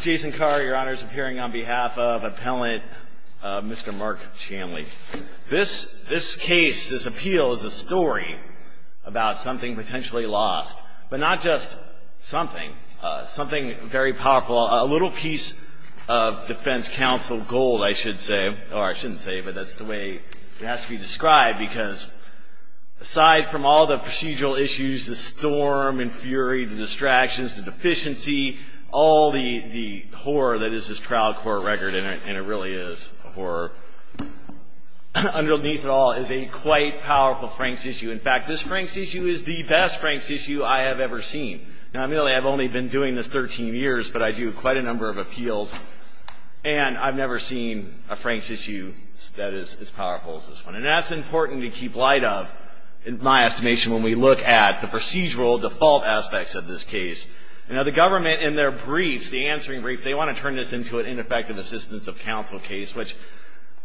Jason Carr, Your Honor, is appearing on behalf of Appellant Mr. Mark Chanley. This case, this appeal, is a story about something potentially lost. But not just something. Something very powerful. A little piece of defense counsel gold, I should say. Or I shouldn't say, but that's the way it has to be described, because aside from all the procedural issues, the storm and fury, the distractions, the deficiency, all the horror that is this trial court record, and it really is a horror, underneath it all is a quite powerful Frank's issue. In fact, this Frank's issue is the best Frank's issue I have ever seen. Now, admittedly, I've only been doing this 13 years, but I do quite a number of appeals, and I've never seen a Frank's issue that is as powerful as this one. And that's important to keep light of, in my estimation, when we look at the procedural default aspects of this case. Now, the government, in their briefs, the answering brief, they want to turn this into an ineffective assistance of counsel case, which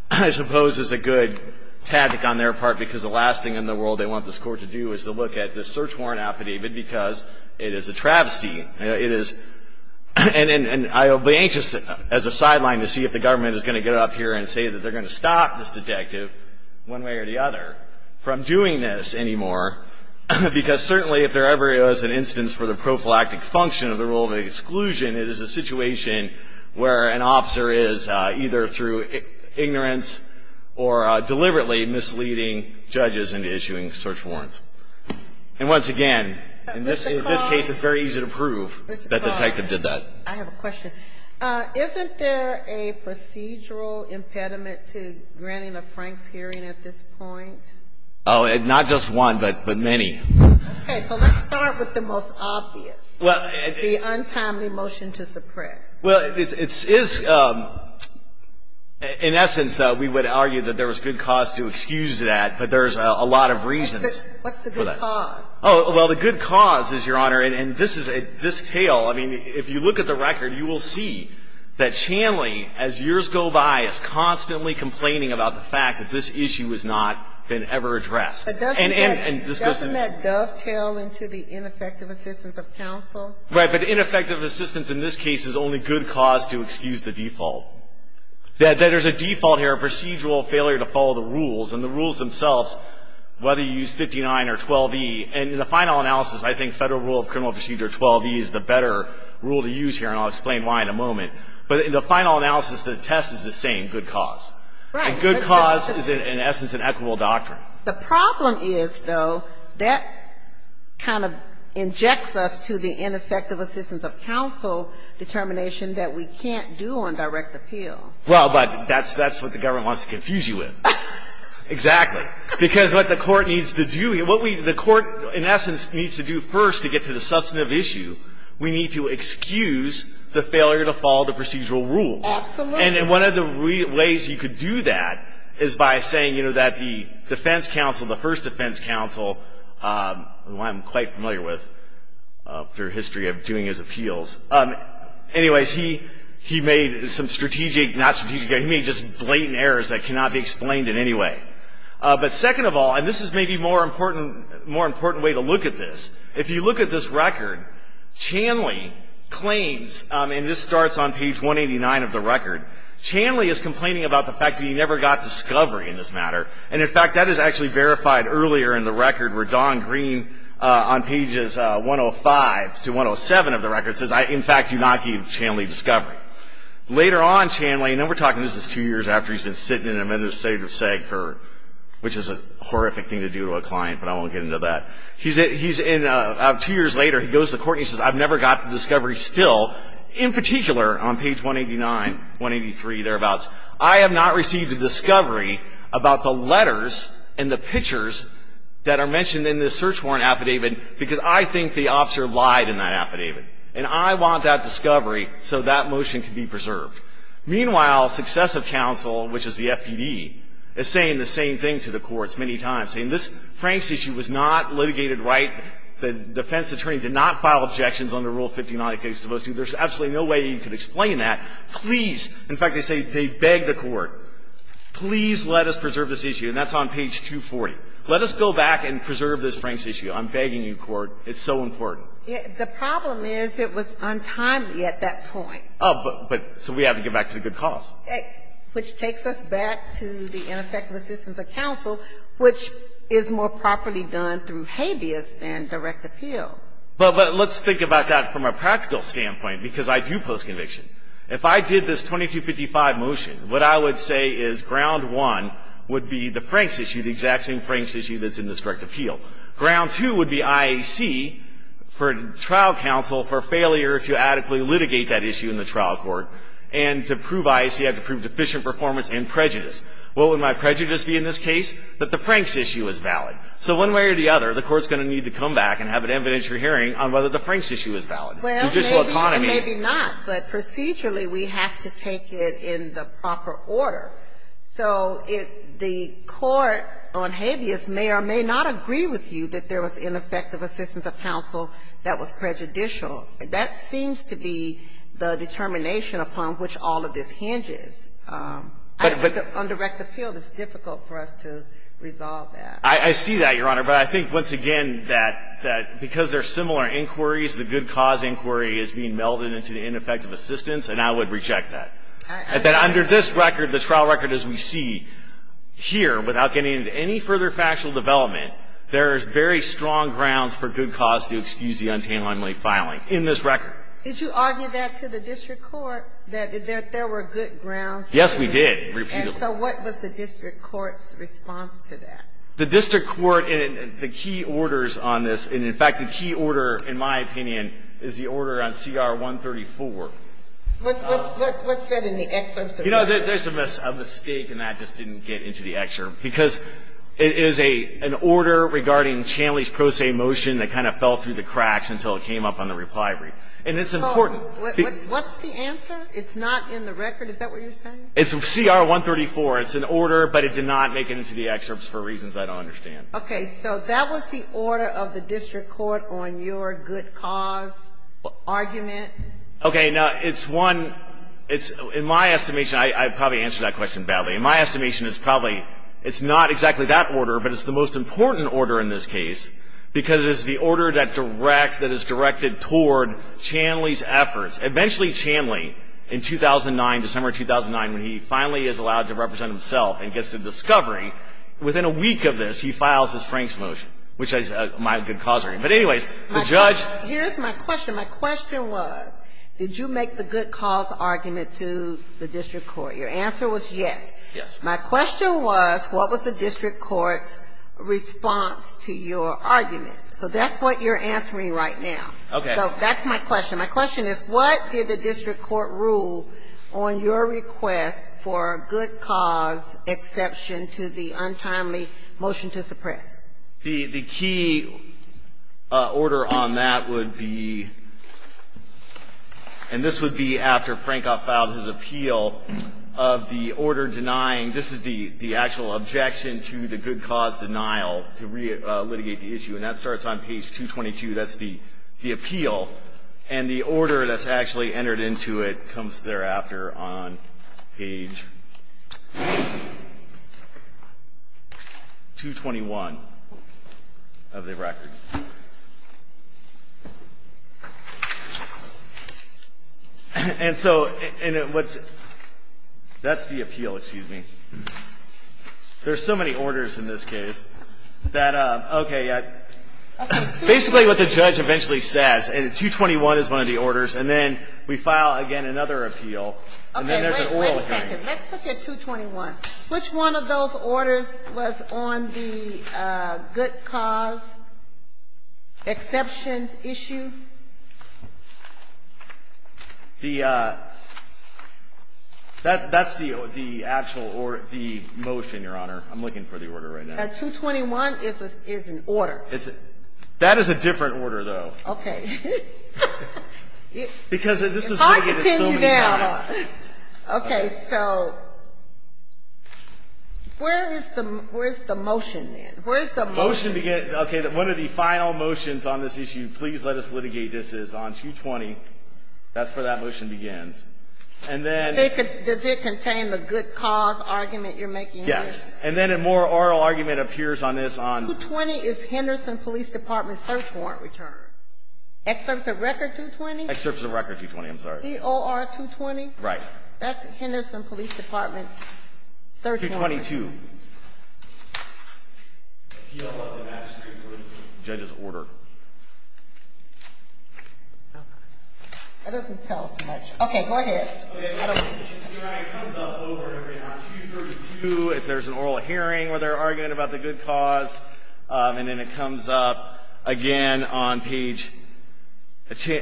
I suppose is a good tactic on their part, because the last thing in the world they want this court to do is to look at this search warrant affidavit, because it is a travesty. It is, and I'll be anxious as a sideline to see if the government is going to get up here and say that they're going to stop this detective one way or the other from doing this anymore, because certainly if there ever is an instance for the prophylactic function of the rule of exclusion, it is a situation where an officer is either through ignorance or deliberately misleading judges into issuing search warrants. And once again, in this case it's very easy to prove that the detective did that. I have a question. Isn't there a procedural impediment to granting a Franks hearing at this point? Oh, not just one, but many. Okay. So let's start with the most obvious, the untimely motion to suppress. Well, it is, in essence, we would argue that there was good cause to excuse that, but there's a lot of reasons. What's the good cause? Oh, well, the good cause is, Your Honor, and this tale, I mean, if you look at the record you will see that Chanley, as years go by, is constantly complaining about the fact that this issue has not been ever addressed. Doesn't that dovetail into the ineffective assistance of counsel? Right, but ineffective assistance in this case is only good cause to excuse the default. There's a default here, a procedural failure to follow the rules, and the rules themselves, whether you use 59 or 12E, and in the final analysis, I think Federal Rule of Criminal Procedure 12E is the better rule to use here, and I'll explain why in a moment. But in the final analysis, the test is the same, good cause. Right. And good cause is, in essence, an equitable doctrine. The problem is, though, that kind of injects us to the ineffective assistance of counsel determination that we can't do on direct appeal. Well, but that's what the government wants to confuse you with. Exactly. Because what the court needs to do, what the court, in essence, needs to do first to get to the substantive issue, we need to excuse the failure to follow the procedural rules. Absolutely. And one of the ways you could do that is by saying, you know, that the defense counsel, the first defense counsel who I'm quite familiar with through history of doing his appeals, anyways, he made some strategic, not strategic, he made just blatant errors that cannot be explained in any way. But second of all, and this is maybe a more important way to look at this, if you look at this record, Chanley claims, and this starts on page 189 of the record, Chanley is complaining about the fact that he never got discovery in this matter. And, in fact, that is actually verified earlier in the record where Don Green, on pages 105 to 107 of the record, says, in fact, do not give Chanley discovery. Later on, Chanley, and then we're talking, this is two years after he's been sitting in an administrative seg for, which is a horrific thing to do to a client, but I won't get into that. He's in, two years later, he goes to court and he says, I've never got the discovery still, in particular, on page 189, 183, thereabouts, I have not received a discovery about the letters and the pictures that are mentioned in this search warrant affidavit because I think the officer lied in that affidavit. And I want that discovery so that motion can be preserved. Meanwhile, successive counsel, which is the FPD, is saying the same thing to the courts many times, saying this Franks issue was not litigated right, the defense attorney did not file objections under Rule 59 of the Cases of Postings. There's absolutely no way you can explain that. Please, in fact, they say they beg the court, please let us preserve this issue. And that's on page 240. Let us go back and preserve this Franks issue. I'm begging you, court. It's so important. The problem is it was untimely at that point. Oh, but so we have to get back to the good cause. Which takes us back to the ineffective assistance of counsel, which is more properly done through habeas than direct appeal. But let's think about that from a practical standpoint, because I do post conviction. If I did this 2255 motion, what I would say is ground one would be the Franks issue, the exact same Franks issue that's in this direct appeal. Ground two would be IAC for trial counsel for failure to adequately litigate that issue in the trial court. And to prove IAC, I have to prove deficient performance and prejudice. What would my prejudice be in this case? That the Franks issue is valid. So one way or the other, the court's going to need to come back and have an evidentiary hearing on whether the Franks issue is valid. Judicial autonomy. Well, maybe and maybe not, but procedurally we have to take it in the proper order. So if the court on habeas may or may not agree with you that there was ineffective assistance of counsel that was prejudicial, that seems to be the determination upon which all of this hinges. But on direct appeal, it's difficult for us to resolve that. I see that, Your Honor. But I think, once again, that because they're similar inquiries, the good cause inquiry is being melded into the ineffective assistance, and I would reject that. That under this record, the trial record as we see here, without getting into any further factual development, there is very strong grounds for good cause to excuse the untamely filing in this record. Did you argue that to the district court, that there were good grounds? Yes, we did, repeatedly. And so what was the district court's response to that? The district court, and the key orders on this, and in fact, the key order, in my opinion, is the order on CR 134. What's that in the excerpts? You know, there's a mistake, and that just didn't get into the excerpt, because it is an order regarding Chanley's pro se motion that kind of fell through the cracks until it came up on the reply brief. And it's important. What's the answer? It's not in the record? Is that what you're saying? It's CR 134. It's an order, but it did not make it into the excerpts for reasons I don't understand. So that was the order of the district court on your good cause argument? Okay. Now, it's one, it's, in my estimation, I probably answered that question badly. In my estimation, it's probably, it's not exactly that order, but it's the most important order in this case, because it's the order that directs, that is directed toward Chanley's efforts. Eventually, Chanley, in 2009, December 2009, when he finally is allowed to represent himself and gets to discovery, within a week of this, he files his Franks motion, which is my good cause argument. But anyways, the judge. Here's my question. My question was, did you make the good cause argument to the district court? Your answer was yes. Yes. My question was, what was the district court's response to your argument? So that's what you're answering right now. Okay. So that's my question. My question is, what did the district court rule on your request for good cause exception to the untimely motion to suppress? The key order on that would be, and this would be after Frankoff filed his appeal, of the order denying, this is the actual objection to the good cause denial, to re-litigate the issue. And that starts on page 222. That's the appeal. And the order that's actually entered into it comes thereafter on page 221. Of the record. And so what's the appeal, excuse me? There's so many orders in this case that, okay, basically what the judge eventually says, and 221 is one of the orders, and then we file, again, another appeal. And then there's an oral hearing. Okay. Wait a second. Let's look at 221. Which one of those orders was on the good cause exception issue? The actual order, the motion, Your Honor. I'm looking for the order right now. 221 is an order. That is a different order, though. Okay. It's hard to pin you down. Okay. So where is the motion, then? Where is the motion? The motion begins, okay, one of the final motions on this issue, please let us litigate this, is on 220. That's where that motion begins. And then they could, does it contain the good cause argument you're making here? Yes. And then a more oral argument appears on this on. 220 is Henderson Police Department search warrant return. Excerpts of record 220? Excerpts of record 220. I'm sorry. E-O-R-220? Right. That's Henderson Police Department search warrant. 222. P-O-L-E-M-A-S-S-T-R-E-A-T-E-R-T. Judge's order. Okay. That doesn't tell us much. Okay. Go ahead. Okay. Your Honor, it comes up over and over again on 232 if there's an oral hearing where they're arguing about the good cause. And then it comes up again on page,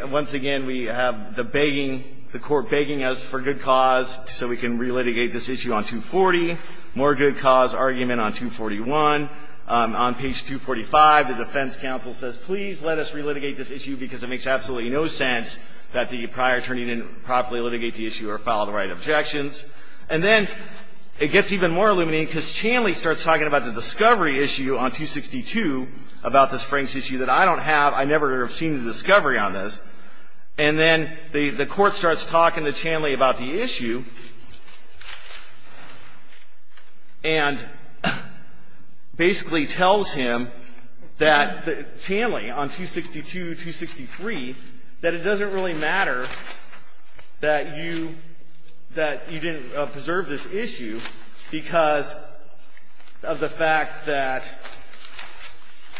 once again, we have the begging, the court begging us for good cause so we can relitigate this issue on 240, more good cause argument on 241. On page 245, the defense counsel says, please let us relitigate this issue because it makes absolutely no sense that the prior attorney didn't properly litigate the issue or file the right of objections. And then it gets even more illuminating because Chanley starts talking about the discovery issue on 262 about this Franks issue that I don't have. I never have seen the discovery on this. And then the court starts talking to Chanley about the issue and basically tells him that, Chanley, on 262, 263, that it doesn't really matter that you didn't preserve this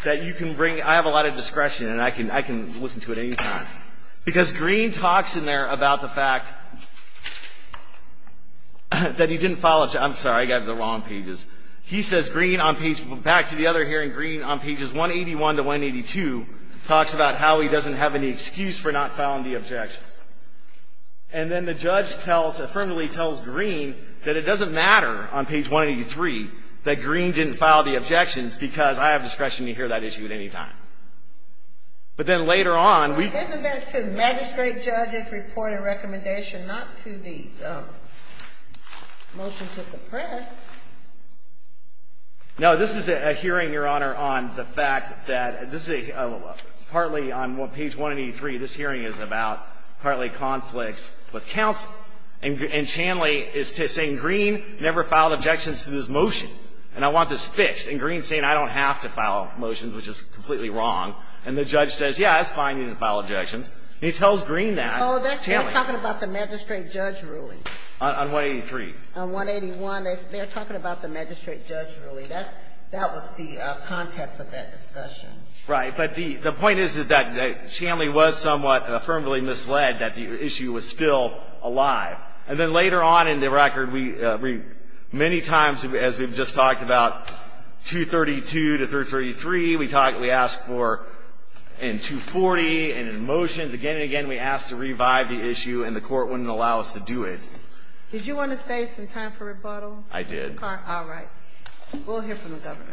that you can bring, I have a lot of discretion and I can listen to it any time. Because Green talks in there about the fact that he didn't file, I'm sorry, I got the wrong pages. He says Green on page, back to the other hearing, Green on pages 181 to 182 talks about how he doesn't have any excuse for not filing the objections. And then the judge tells, affirmatively tells Green that it doesn't matter on page 183 that Green didn't file the objections because I have discretion to hear that issue at any time. But then later on, we. Isn't that to magistrate judges' report and recommendation, not to the motion to suppress? No. This is a hearing, Your Honor, on the fact that this is a, partly on page 183, this hearing is about partly conflicts with counsel. And Chanley is saying Green never filed objections to this motion, and I want this fixed. And Green is saying I don't have to file motions, which is completely wrong. And the judge says, yes, it's fine, you didn't file objections. And he tells Green that. Oh, they're talking about the magistrate judge ruling. On 183. On 181. They're talking about the magistrate judge ruling. That was the context of that discussion. Right. But the point is, is that Chanley was somewhat affirmatively misled that the issue was still alive. And then later on in the record, we many times, as we've just talked about, 232 to 333, we talked, we asked for in 240 and in motions again and again, we asked to revive the issue, and the Court wouldn't allow us to do it. Did you want to save some time for rebuttal? I did. All right. We'll hear from the Governor.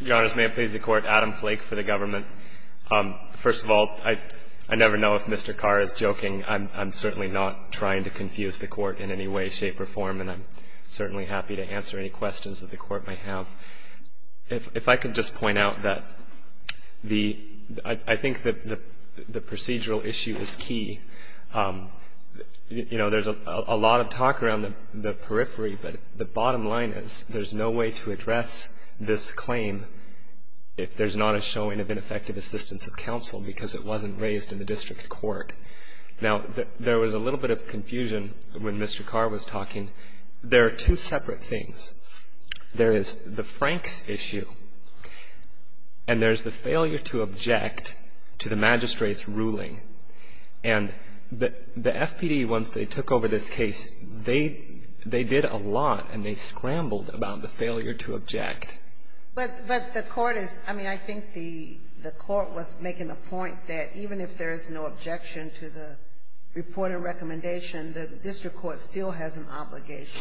Your Honors, may it please the Court, Adam Flake for the Government. First of all, I never know if Mr. Carr is joking. I'm certainly not trying to confuse the Court in any way, shape or form, and I'm certainly happy to answer any questions that the Court may have. If I could just point out that the, I think that the procedural issue is key. You know, there's a lot of talk around the periphery, but the bottom line is, there's no way to address this claim if there's not a showing of ineffective assistance of counsel because it wasn't raised in the district court. Now, there was a little bit of confusion when Mr. Carr was talking. There are two separate things. There is the Franks issue, and there's the failure to object to the magistrate's ruling. And the FPD, once they took over this case, they did a lot, and they scrambled about the failure to object. But the Court is, I mean, I think the Court was making the point that even if there is no objection to the reported recommendation, the district court still has an obligation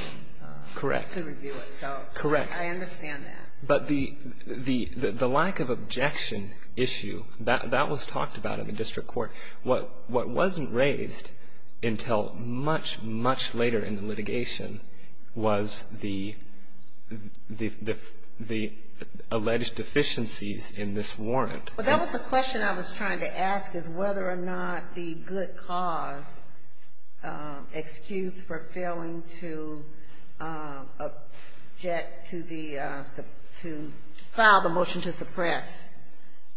to review it. So I understand that. Correct. But the lack of objection issue, that was talked about in the district court. What wasn't raised until much, much later in the litigation was the alleged deficiencies in this warrant. Well, that was the question I was trying to ask, is whether or not the good cause excuse for failing to object to the to file the motion to suppress,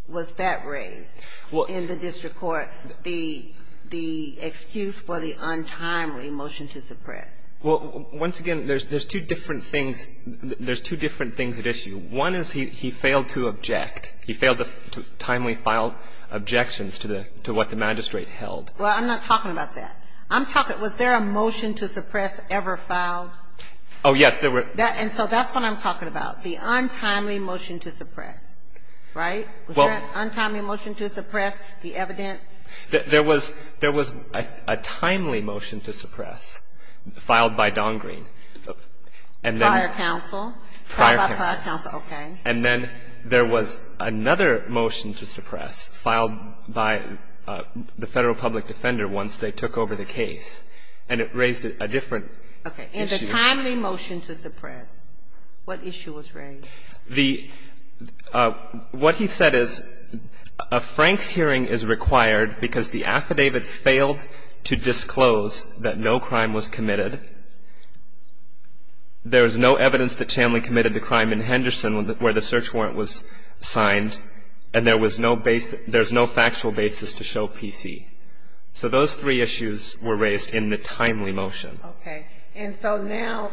was that raised in the district court, the excuse for the untimely motion to suppress? Well, once again, there's two different things. There's two different things at issue. One is he failed to object. He failed to timely file objections to what the magistrate held. Well, I'm not talking about that. I'm talking, was there a motion to suppress ever filed? Oh, yes. And so that's what I'm talking about, the untimely motion to suppress. Right? Was there an untimely motion to suppress the evidence? There was a timely motion to suppress filed by Don Green. Prior counsel? Prior counsel. Okay. And then there was another motion to suppress filed by the Federal public defender once they took over the case, and it raised a different issue. Okay. And the timely motion to suppress, what issue was raised? The – what he said is a Franks hearing is required because the affidavit failed to disclose that no crime was committed. There was no evidence that Chamley committed the crime in Henderson where the search warrant was signed, and there was no factual basis to show PC. So those three issues were raised in the timely motion. Okay. And so now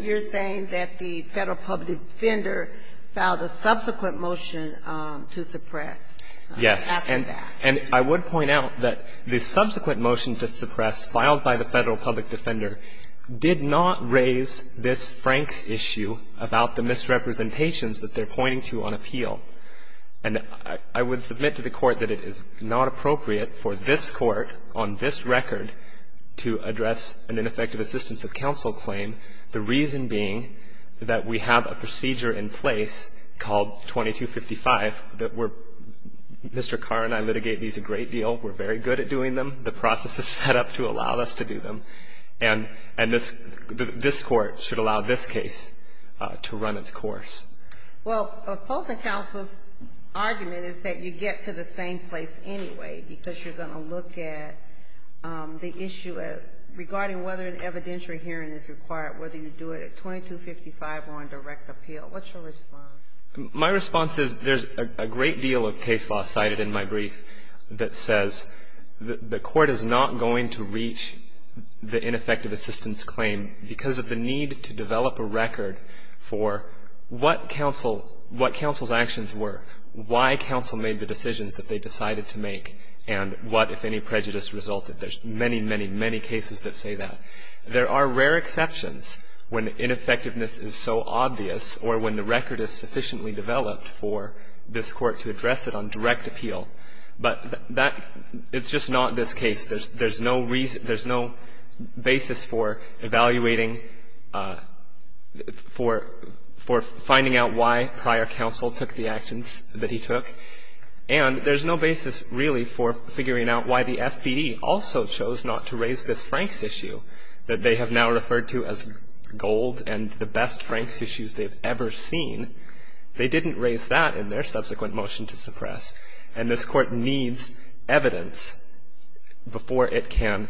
you're saying that the Federal public defender filed a subsequent motion to suppress after that. Yes. The Federal public defender did not raise this Franks issue about the misrepresentations that they're pointing to on appeal. And I would submit to the Court that it is not appropriate for this Court on this record to address an ineffective assistance of counsel claim, the reason being that we have a procedure in place called 2255 that we're – Mr. Carr and I litigate these a great deal. We're very good at doing them. The process is set up to allow us to do them. And this Court should allow this case to run its course. Well, opposing counsel's argument is that you get to the same place anyway because you're going to look at the issue regarding whether an evidentiary hearing is required, whether you do it at 2255 or on direct appeal. What's your response? My response is there's a great deal of case law cited in my brief that says the Court is not going to reach the ineffective assistance claim because of the need to develop a record for what counsel's actions were, why counsel made the decisions that they decided to make, and what, if any, prejudice resulted. There's many, many, many cases that say that. There are rare exceptions when ineffectiveness is so obvious or when the record is sufficiently developed for this Court to address it on direct appeal. But that – it's just not this case. There's no reason – there's no basis for evaluating – for finding out why prior counsel took the actions that he took. And there's no basis really for figuring out why the FPD also chose not to raise this Franks issue that they have now referred to as gold and the best Franks issues they've ever seen. They didn't raise that in their subsequent motion to suppress. And this Court needs evidence before it can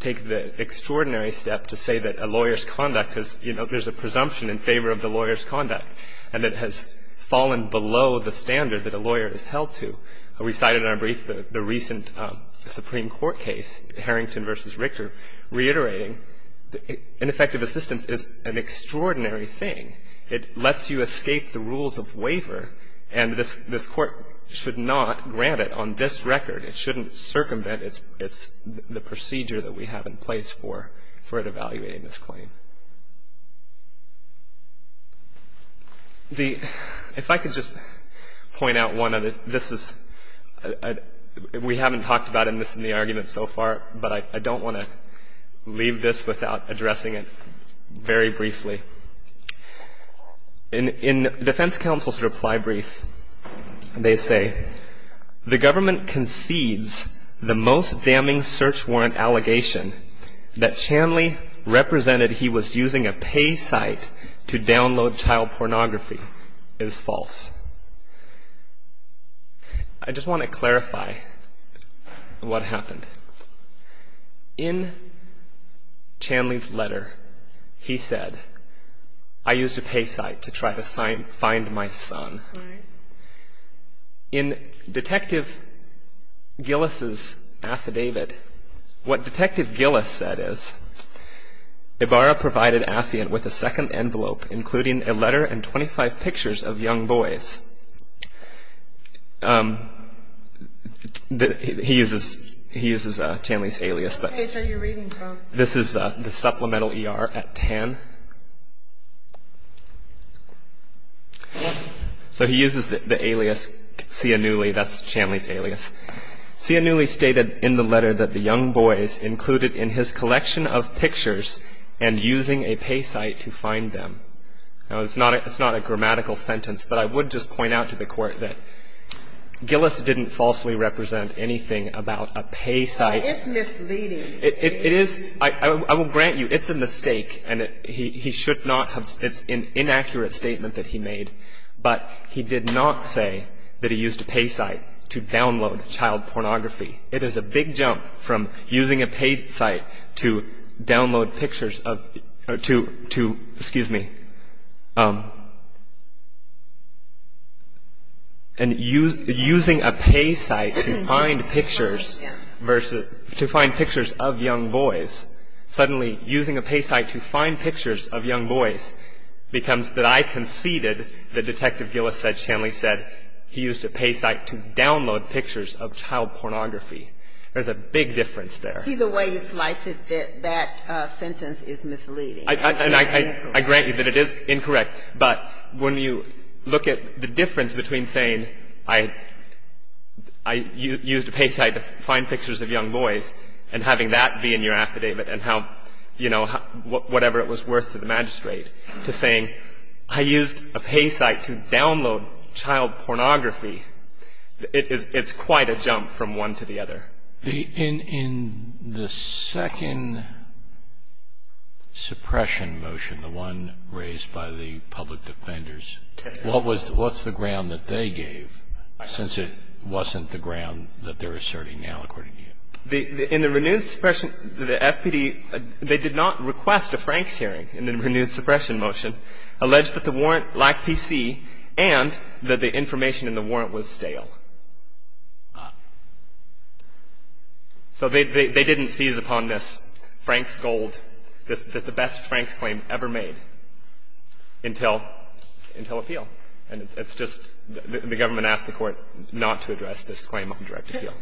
take the extraordinary step to say that a lawyer's conduct has – you know, there's a presumption in favor of the lawyer's conduct and it has fallen below the standard that a lawyer is held to. We cited in our brief the recent Supreme Court case, Harrington v. Richter, reiterating ineffective assistance is an extraordinary thing. It lets you escape the rules of waiver, and this Court should not grant it on this record. It shouldn't circumvent its – the procedure that we have in place for it evaluating this claim. The – if I could just point out one other – this is – we haven't talked about this in the argument so far, but I don't want to leave this without addressing it very briefly. In defense counsel's reply brief, they say, the government concedes the most damning search warrant allegation that Chanley represented he was using a pay site to download child pornography is false. I just want to clarify what happened. In Chanley's letter, he said, I used a pay site to try to find my son. In Detective Gillis's affidavit, what Detective Gillis said is, Ibarra provided Affion with a pay site to try to find my son. Ibarra provided Affion with a pay site to try to find my son. He uses – he uses Chanley's alias, but this is the supplemental E.R. at 10. So he uses the alias Cianulli. That's Chanley's alias. Cianulli stated in the letter that the young boys included in his collection of pictures and using a pay site to find them. Now, it's not a grammatical sentence, but I would just point out to the Court that Gillis didn't falsely represent anything about a pay site. It's misleading. It is – I will grant you, it's a mistake, and he should not have – it's an inaccurate statement that he made. But he did not say that he used a pay site to download child pornography. It is a big jump from using a pay site to download pictures of – to – excuse me. And using a pay site to find pictures versus – to find pictures of young boys. Suddenly, using a pay site to find pictures of young boys becomes that I conceded that Detective Gillis said Chanley said he used a pay site to download pictures of child pornography. There's a big difference there. Look either way you slice it, that sentence is misleading. And I grant you that it is incorrect, but when you look at the difference between saying I used a pay site to find pictures of young boys and having that be in your affidavit and how, you know, whatever it was worth to the magistrate, to saying I used a pay site to download child pornography, it's quite a jump from one to the other. In the second suppression motion, the one raised by the public defenders, what was – what's the ground that they gave since it wasn't the ground that they're asserting now according to you? In the renewed suppression, the FPD, they did not request a Franks hearing in the renewed suppression motion, alleged that the warrant lacked PC and that the information in the warrant was stale. So they didn't seize upon this Franks gold, the best Franks claim ever made until appeal. And it's just the government asked the court not to address this claim on direct appeal.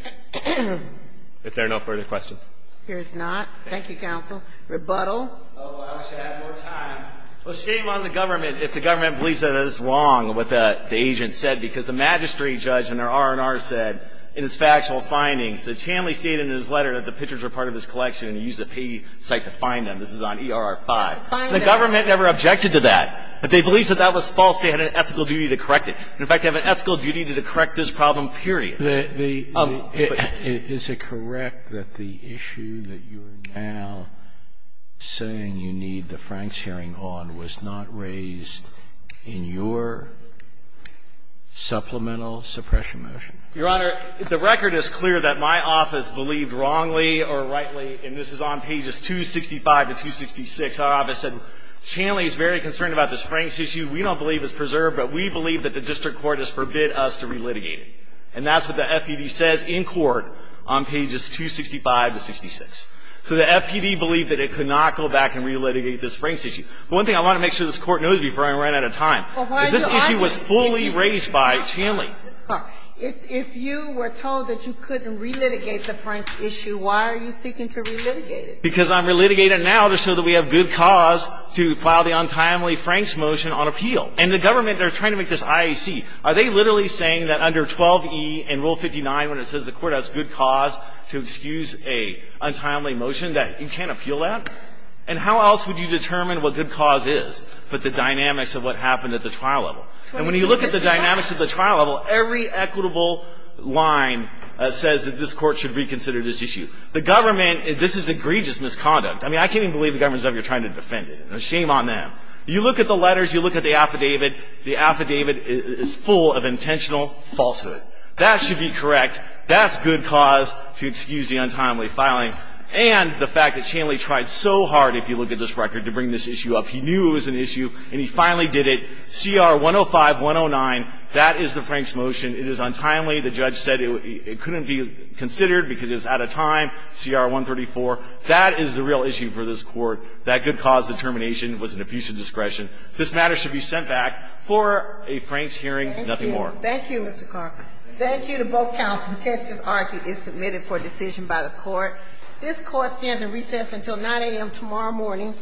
If there are no further questions. Here's not. Thank you, counsel. Rebuttal. Well, I wish I had more time. Well, shame on the government if the government believes that it is wrong what the agent said, because the magistrate judge in their R&R said in his factual findings that Chamley stated in his letter that the pictures were part of his collection and he used a pay site to find them. This is on ERR 5. The government never objected to that. If they believe that that was false, they had an ethical duty to correct it. In fact, they have an ethical duty to correct this problem, period. Is it correct that the issue that you are now saying you need the Franks hearing on was not raised in your supplemental suppression motion? Your Honor, the record is clear that my office believed wrongly or rightly, and this is on pages 265 to 266, our office said, Chamley is very concerned about this Franks issue. We don't believe it's preserved, but we believe that the district court has forbid us to relitigate it. And that's what the FPD says in court on pages 265 to 266. So the FPD believed that it could not go back and relitigate this Franks issue. One thing I want to make sure this Court knows before I run out of time is this issue was fully raised by Chamley. If you were told that you couldn't relitigate the Franks issue, why are you seeking to relitigate it? Because I'm relitigating it now just so that we have good cause to file the untimely Franks motion on appeal. And the government, they're trying to make this IAC. Are they literally saying that under 12e and Rule 59, when it says the court has good cause to excuse a untimely motion, that you can't appeal that? And how else would you determine what good cause is but the dynamics of what happened at the trial level? And when you look at the dynamics at the trial level, every equitable line says that this Court should reconsider this issue. The government, this is egregious misconduct. I mean, I can't even believe the government is ever trying to defend it. Shame on them. You look at the letters, you look at the affidavit. The affidavit is full of intentional falsehood. That should be correct. That's good cause to excuse the untimely filing. And the fact that Shanley tried so hard, if you look at this record, to bring this issue up. He knew it was an issue, and he finally did it. CR 105-109, that is the Franks motion. It is untimely. The judge said it couldn't be considered because it was out of time. CR 134, that is the real issue for this Court. That good cause determination was an abuse of discretion. This matter should be sent back for a Franks hearing, nothing more. Thank you. Thank you, Mr. Carker. Thank you to both counsels. The testis archi is submitted for decision by the Court. This Court stands in recess until 9 a.m. tomorrow morning.